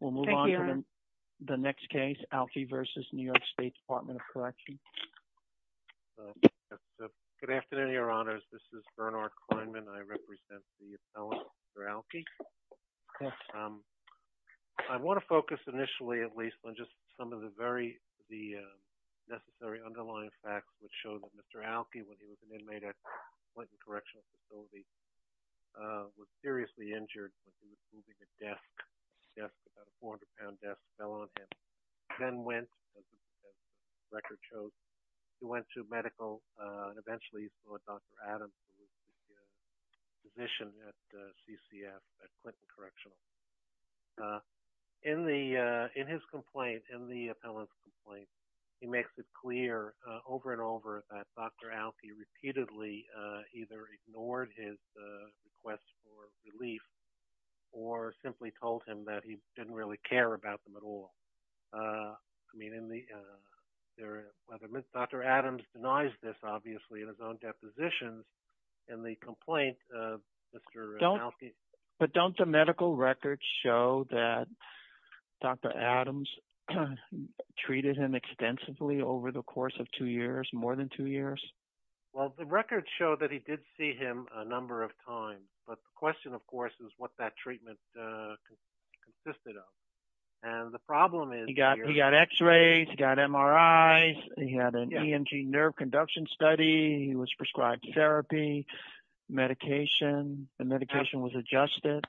We'll move on to the next case, Alke v. New York State Department of Correction. Good afternoon, Your Honors. This is Bernard Kleinman. I represent the appellant, Mr. Alke. I want to focus initially, at least, on just some of the very necessary underlying facts which show that Mr. Alke, when he was an inmate at the Clinton Correctional Facility, was seriously injured when he was moving a desk. A desk, about a 400-pound desk, fell on him. Then went, as the record shows, he went to medical, and eventually he saw Dr. Adams, who was the physician at CCF, at Clinton Correctional. In the, in his complaint, in the appellant's complaint, he makes it clear over and over that Dr. Alke repeatedly either ignored his request for relief or simply told him that he didn't really care about them at all. I mean, in the, whether, Dr. Adams denies this, obviously, in his own depositions, in the complaint of Mr. Alke. But don't the medical records show that Dr. Adams treated him extensively over the course of two years, more than two years? Well, the records show that he did see him a number of times, but the question, of course, is what that treatment consisted of. And the problem is- He got, he got x-rays, he got MRIs, he had an ENG nerve conduction study, he was prescribed therapy, medication, the medication was adjusted.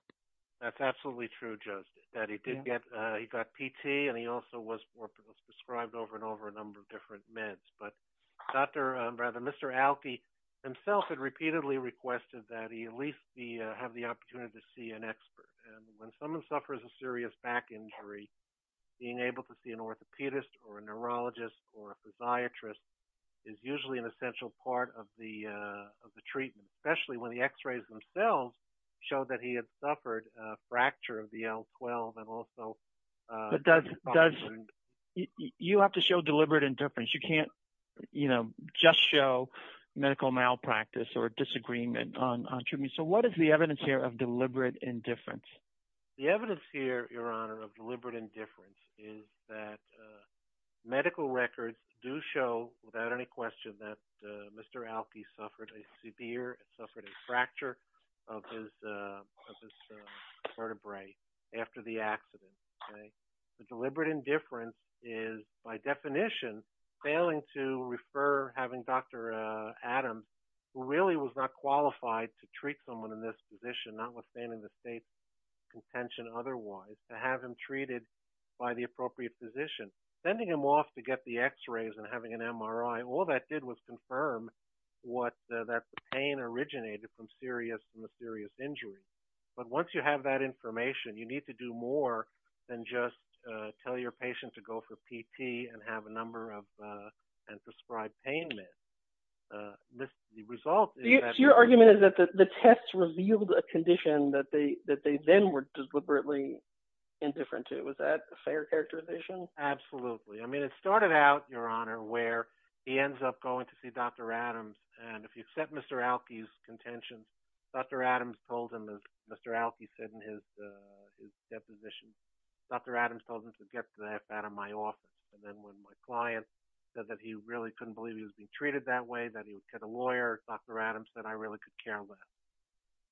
That's absolutely true, Joseph, that he did get, he got PT, and he also was prescribed over and over. But Mr. Alke himself had repeatedly requested that he at least have the opportunity to see an expert. And when someone suffers a serious back injury, being able to see an orthopedist or a neurologist or a physiatrist is usually an essential part of the treatment, especially when the x-rays themselves show that he had suffered a fracture of the L12 and also- You have to show deliberate indifference. You can't, you know, just show medical malpractice or disagreement on treatment. So what is the evidence here of deliberate indifference? The evidence here, Your Honor, of deliberate indifference is that medical records do show, without any question, that Mr. Alke suffered a severe, suffered a fracture of his vertebrae after the accident. The deliberate indifference is, by definition, failing to refer having Dr. Adams, who really was not qualified to treat someone in this position, notwithstanding the state's contention otherwise, to have him treated by the appropriate physician. Sending him off to get the x-rays and having an MRI, all that did was confirm what, that the pain originated from a serious injury. But once you have that information, you need to do more than just tell your patient to go for PT and have a number of prescribed pain meds. The result- Your argument is that the tests revealed a condition that they then were deliberately indifferent to. Was that a fair characterization? Absolutely. I mean, it started out, Your Honor, where he ends up going to see Dr. Adams, and if you accept Mr. Alke's contention, Dr. Adams told him, as Mr. Alke said in his deposition, Dr. Adams told him to get the F out of my office. And then when my client said that he really couldn't believe he was being treated that way, that he would get a lawyer, Dr. Adams said, I really could care less.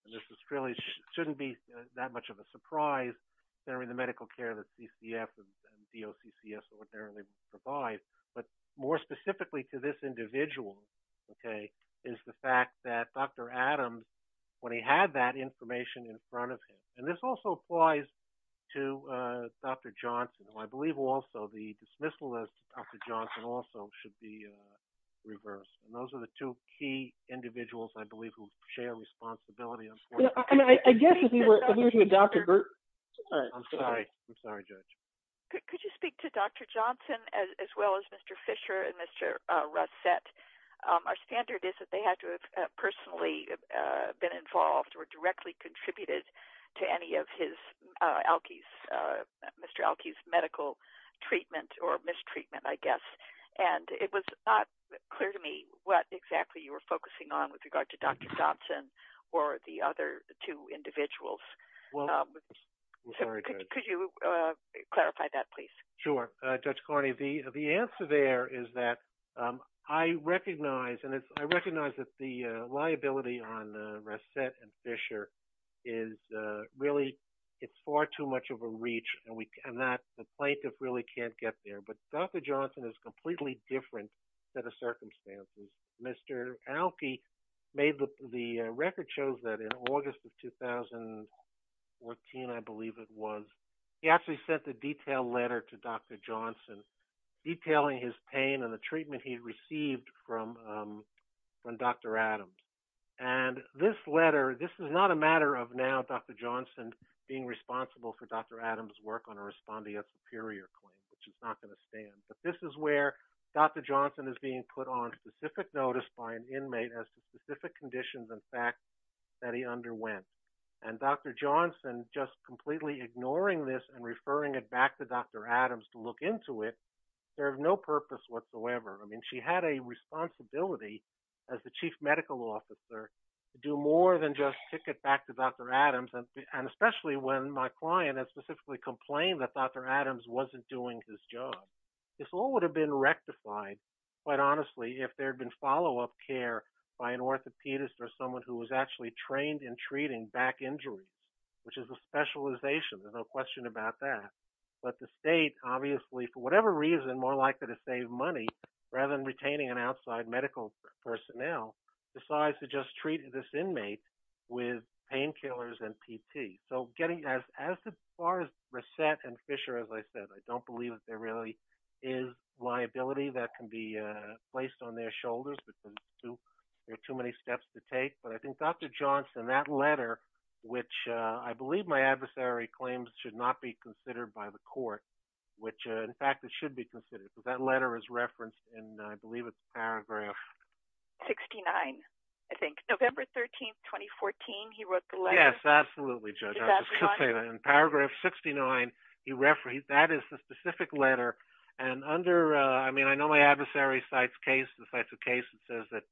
And this really shouldn't be that much of a surprise during the is the fact that Dr. Adams, when he had that information in front of him, and this also applies to Dr. Johnson, who I believe also the dismissal of Dr. Johnson also should be reversed. And those are the two key individuals, I believe, who share responsibility. I mean, I guess if he were to adopt- I'm sorry. I'm sorry, Judge. Could you speak to Dr. Johnson as well as Mr. Fisher and Mr. Rossett? Our standard is that they had to have personally been involved or directly contributed to any of Mr. Alke's medical treatment or mistreatment, I guess. And it was not clear to me what exactly you were focusing on with regard to Dr. Johnson or the other two individuals. Could you clarify that, please? Sure, Judge Carney. The answer there is that I recognize that the liability on Rossett and Fisher is really, it's far too much of a reach, and the plaintiff really can't get there. But Dr. Johnson is completely different set of circumstances. Mr. Alke made the record shows that in August of 2014, I believe it was, he actually sent a detailed letter to Dr. Johnson, detailing his pain and the treatment he received from Dr. Adams. And this letter, this is not a matter of now Dr. Johnson being responsible for Dr. Adams' work on a respondeat superior claim, which is not going to stand. But this is where Dr. Johnson is being put on specific notice by an inmate as to specific conditions and facts that he underwent. And Dr. Johnson just completely ignoring this and referring it back to Dr. Adams to look into it, there is no purpose whatsoever. I mean, she had a responsibility as the chief medical officer to do more than just kick it back to Dr. Adams. And especially when my client had specifically complained that Dr. Adams wasn't doing his job. This all would have been rectified, quite honestly, if there had been follow-up care by an orthopedist or someone who was actually trained in treating back injuries, which is a specialization, there's no question about that. But the state, obviously, for whatever reason, more likely to save money, rather than retaining an outside medical personnel, decides to just treat this inmate with painkillers and PT. So getting as far as Reset and Fisher, as I said, I don't believe that there really is liability that can be placed on their shoulders, because there are too many steps to take. But I think Dr. Johnson, that letter, which I believe my adversary claims should not be considered by the court, which in fact, it should be considered because that letter is referenced in, I believe it's paragraph 69, I think. November 13, 2014, he wrote the letter. Yes, absolutely, Judge. I was going to say that. In paragraph 69, that is the specific letter. And under, I mean, I know my adversary cites a case that says that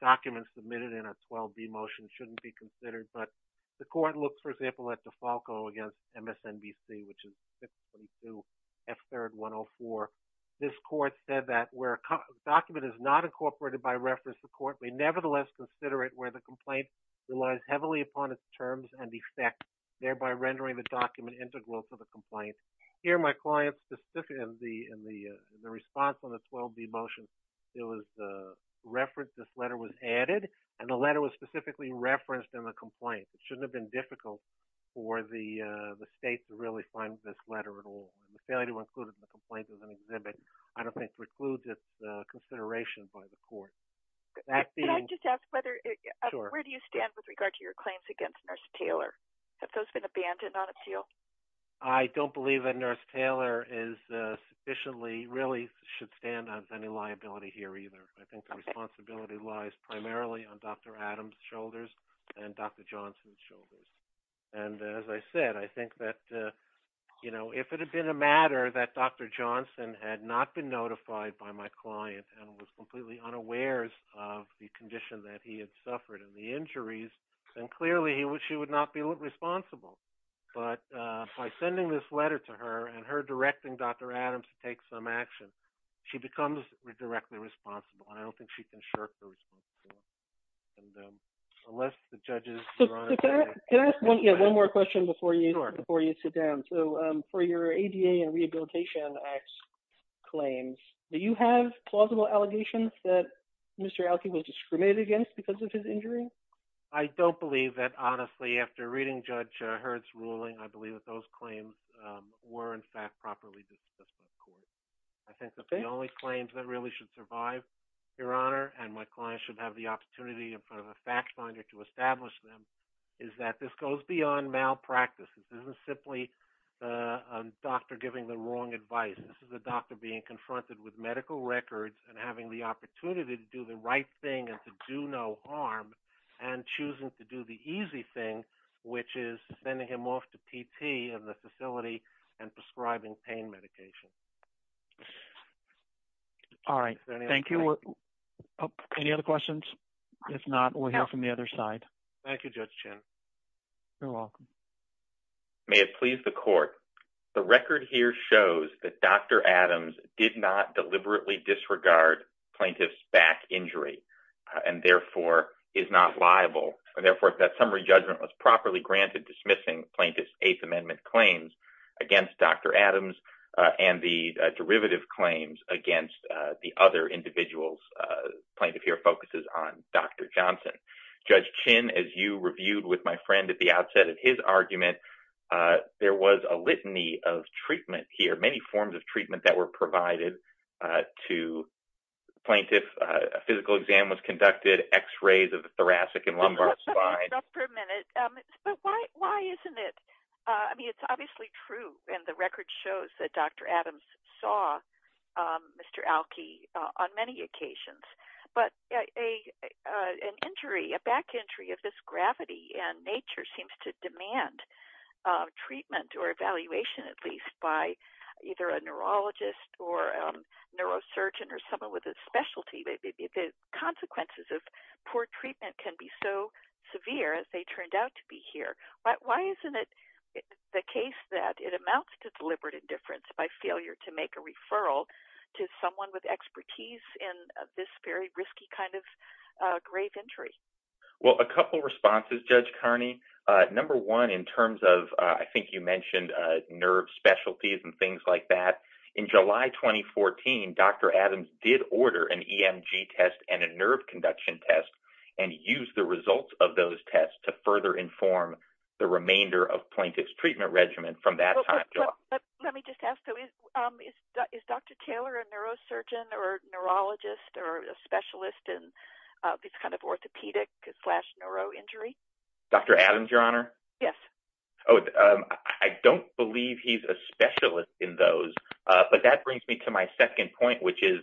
documents submitted in a 12D motion shouldn't be considered. But the court looks, for example, at DeFalco against MSNBC, which is 622 F3rd 104. This court said that where a document is not incorporated by reference, the court may nevertheless consider it where the complaint relies heavily upon its terms and effect, thereby rendering the document integral to the complaint. Here, my client, specifically in the response on the 12D motion, it was referenced, this letter was added, and the letter was specifically referenced in the complaint. It shouldn't have been difficult for the state to find this letter at all. The failure to include it in the complaint as an exhibit, I don't think, precludes its consideration by the court. Can I just ask, where do you stand with regard to your claims against Nurse Taylor? Have those been abandoned on appeal? I don't believe that Nurse Taylor is sufficiently, really should stand as any liability here either. I think the responsibility lies primarily on Dr. Adams' shoulders and Dr. Johnson's shoulders. And as I said, I think that if it had been a matter that Dr. Johnson had not been notified by my client and was completely unawares of the condition that he had suffered and the injuries, then clearly she would not be responsible. But by sending this letter to her and her directing Dr. Adams to take some action, she becomes directly responsible. And I don't think she can shirk the responsibility. And unless the judges- Can I ask one more question before you sit down? So for your ADA and Rehabilitation Act claims, do you have plausible allegations that Mr. Elkey was discriminated against because of his injury? I don't believe that. Honestly, after reading Judge Hurd's ruling, I believe that those claims were in fact properly discussed by the court. I think that the only claims that should survive, Your Honor, and my client should have the opportunity in front of a fact finder to establish them, is that this goes beyond malpractice. This isn't simply a doctor giving the wrong advice. This is a doctor being confronted with medical records and having the opportunity to do the right thing and to do no harm and choosing to do the easy thing, which is sending him off to PT in the facility and prescribing pain medication. All right. Thank you. Any other questions? If not, we'll hear from the other side. Thank you, Judge Chin. You're welcome. May it please the court, the record here shows that Dr. Adams did not deliberately disregard plaintiff's back injury and therefore is not liable. And therefore, that summary judgment was properly granted dismissing plaintiff's Eighth Amendment claims against Dr. Adams and the derivative claims against the other individuals. Plaintiff here focuses on Dr. Johnson. Judge Chin, as you reviewed with my friend at the outset of his argument, there was a litany of treatment here, many forms of treatment that were provided to the plaintiff. A physical exam was conducted, x-rays of the thoracic and lumbar spine. But why isn't it? I mean, it's obviously true. And the record shows that Dr. Adams saw Mr. Alki on many occasions. But an injury, a back injury of this gravity and nature seems to demand treatment or evaluation, at least by either a poor treatment can be so severe as they turned out to be here. But why isn't it the case that it amounts to deliberate indifference by failure to make a referral to someone with expertise in this very risky kind of grave injury? Well, a couple responses, Judge Kearney. Number one, in terms of, I think you mentioned nerve specialties and things like that. In July 2014, Dr. Adams did order an EMG test and a nerve conduction test and use the results of those tests to further inform the remainder of plaintiff's treatment regimen from that time. Let me just ask, is Dr. Taylor a neurosurgeon or a neurologist or a specialist in this kind of orthopedic slash neuro injury? Dr. Adams, Your Honor? Yes. Oh, I don't believe he's a specialist in those. But that brings me to my second point, which is,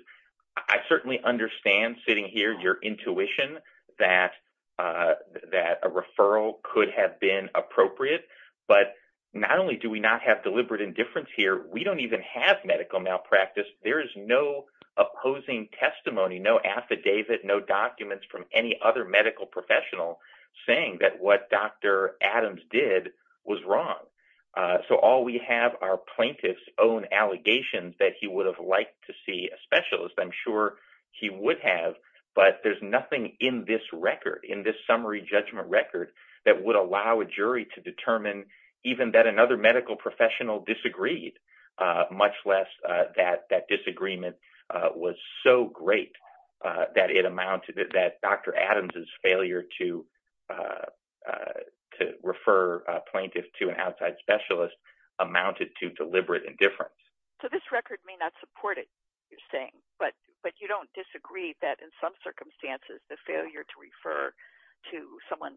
I certainly understand sitting here, your intuition that a referral could have been appropriate. But not only do we not have deliberate indifference here, we don't even have medical malpractice. There is no opposing testimony, no affidavit, no documents from any other medical professional saying that what Dr. Adams did was wrong. So all we have are plaintiff's own allegations that he would have liked to see a specialist. I'm sure he would have, but there's nothing in this record, in this summary judgment record that would allow a jury to determine even that another medical professional disagreed, much less that that disagreement was so great that it amounted to that Dr. Adams's failure to to refer a plaintiff to an outside specialist amounted to deliberate indifference. So this record may not support it, you're saying, but you don't disagree that in some circumstances, the failure to refer to someone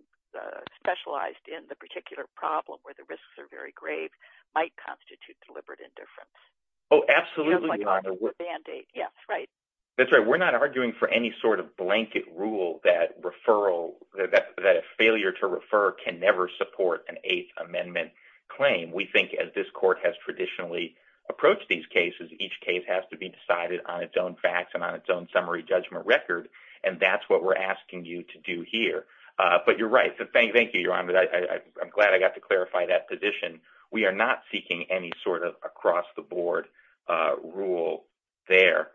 specialized in the particular problem where the risks are very grave might constitute deliberate indifference? Oh, absolutely, Your Honor. Yes, right. That's right. We're not arguing for any sort of blanket rule that a failure to refer can never support an Eighth Amendment claim. We think as this court has traditionally approached these cases, each case has to be decided on its own facts and on its own summary judgment record. And that's what we're asking you to do here. But you're right. Thank you, Your Honor. I'm glad I got to clarify that position. We are not seeking any sort of across the board rule there.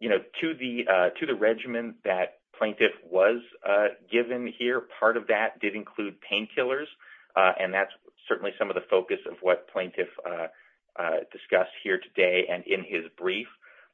You know, to the to the regimen that plaintiff was given here, part of that did include painkillers. And that's certainly some of the focus of what plaintiff discussed here today and in his brief.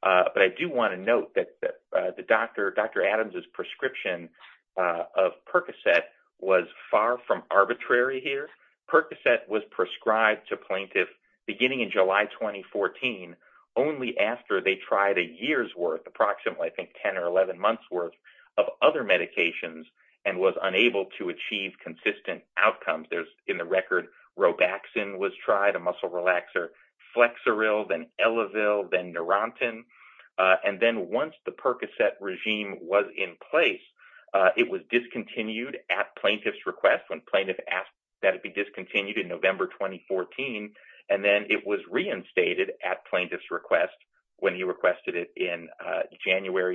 But I do want to note that Dr. Adams's prescription of Percocet was far from arbitrary here. Percocet was prescribed to plaintiff beginning in July 2014, only after they tried a year's worth, approximately I think 10 or 11 months worth of other medications and was unable to achieve consistent outcomes. There's in the record Robaxin was tried, a muscle relaxer, Flexeril, then Elevil, then Neurontin. And then once the Percocet regime was in place, it was discontinued at plaintiff's request when plaintiff asked that it be discontinued in in January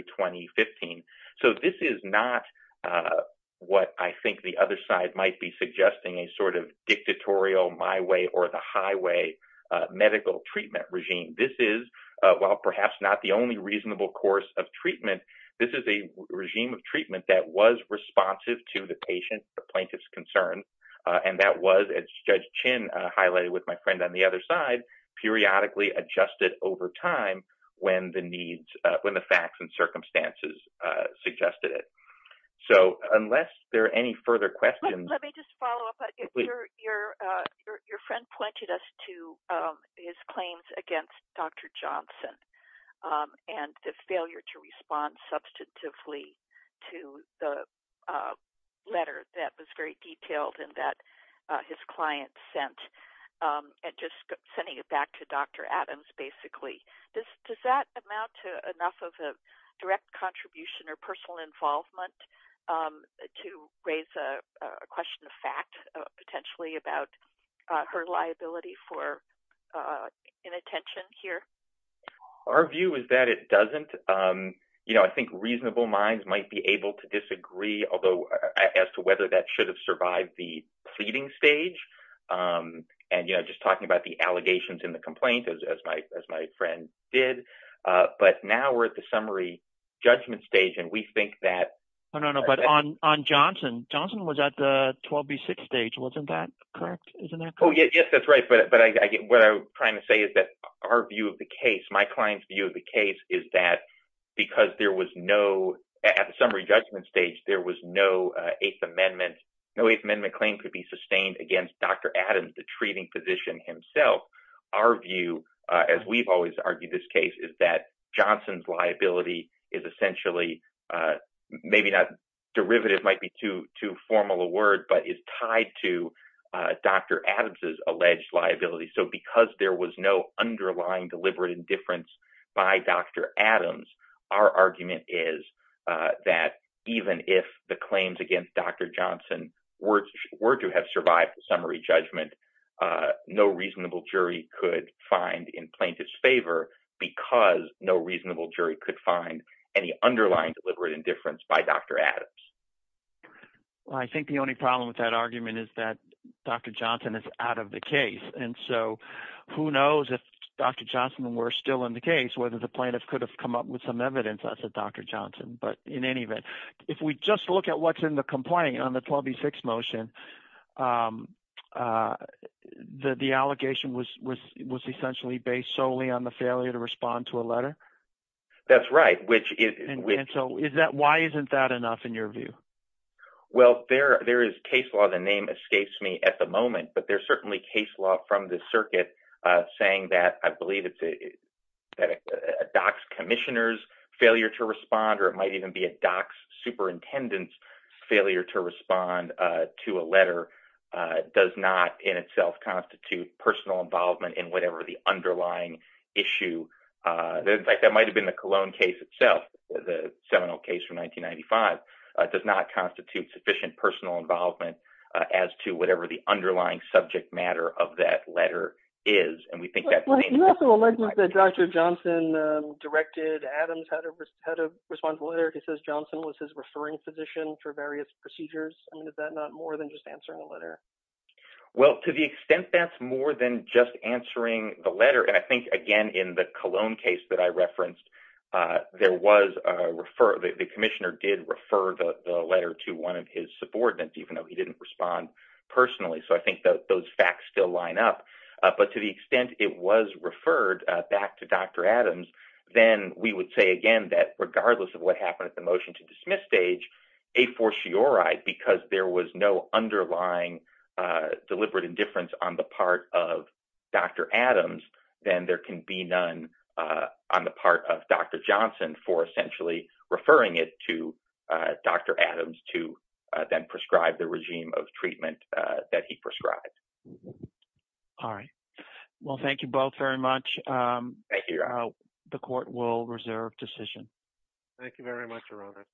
2015. So this is not what I think the other side might be suggesting, a sort of dictatorial my way or the highway medical treatment regime. This is, while perhaps not the only reasonable course of treatment, this is a regime of treatment that was responsive to the patient, the plaintiff's concerns. And that was, as Judge Chin highlighted with my friend on the other side, periodically adjusted over time when the needs, when the facts and circumstances suggested it. So unless there are any further questions... Let me just follow up. Your friend pointed us to his claims against Dr. Johnson and the failure to respond substantively to the letter that was detailed in that his client sent, and just sending it back to Dr. Adams, basically. Does that amount to enough of a direct contribution or personal involvement to raise a question of fact, potentially about her liability for inattention here? Our view is that it doesn't. You know, I think reasonable minds might be able to disagree, as to whether that should have survived the pleading stage. And, you know, just talking about the allegations in the complaint, as my friend did. But now we're at the summary judgment stage. And we think that... No, no, no. But on Johnson, Johnson was at the 12B6 stage. Wasn't that correct? Isn't that correct? Oh, yes, that's right. But what I'm trying to say is that our view of the case, my client's view of the case, is that because there was no... At the summary judgment stage, there was no Eighth Amendment. No Eighth Amendment claim could be sustained against Dr. Adams, the treating physician himself. Our view, as we've always argued this case, is that Johnson's liability is essentially, maybe not... Derivative might be too formal a word, but it's tied to Dr. Adams' alleged liability. So because there was no underlying deliberate indifference by Dr. Adams, our argument is that even if the claims against Dr. Johnson were to have survived the summary judgment, no reasonable jury could find in plaintiff's favor, because no reasonable jury could find any underlying deliberate indifference by Dr. Adams. Well, I think the only problem with that argument is that Dr. Johnson is out of the case. And so who knows if Dr. Johnson were still in the case, whether the plaintiff could have come up with some evidence as to Dr. Johnson. But in any event, if we just look at what's in the complaint on the 12B6 motion, the allegation was essentially based solely on the failure to respond to a letter? That's right, which is... And so why isn't that enough in your view? Well, there is case law, the name escapes me at the moment, but there's certainly case law from the circuit saying that, I believe it's a doc's commissioner's failure to respond, or it might even be a doc's superintendent's failure to respond to a letter, does not in itself constitute personal involvement in whatever the underlying issue. In fact, that might've been the Cologne case itself, the seminal case from 1995, does not constitute sufficient personal involvement as to whatever the underlying subject matter of that letter is. And we think that... But you also allege that Dr. Johnson directed Adams how to respond to a letter. It says, Johnson was his referring physician for various procedures. I mean, is that not more than just answering a letter? Well, to the extent that's more than just answering the letter, and I think, again, in the Cologne case that I referenced, there was a refer... The commissioner did refer the letter to one of his subordinates, even though he didn't respond personally. So I think that those facts still line up, but to the extent it was referred back to Dr. Adams, then we would say, again, that regardless of what happened at the motion to dismiss stage, a fortiori, because there was no underlying deliberate indifference on the part of Dr. Adams, then there can be none on the part of Dr. Johnson for essentially referring it to Dr. Adams to then prescribe the regime of treatment that he prescribed. All right. Well, thank you both very much. The court will reserve decision. Thank you very much, Your Honor.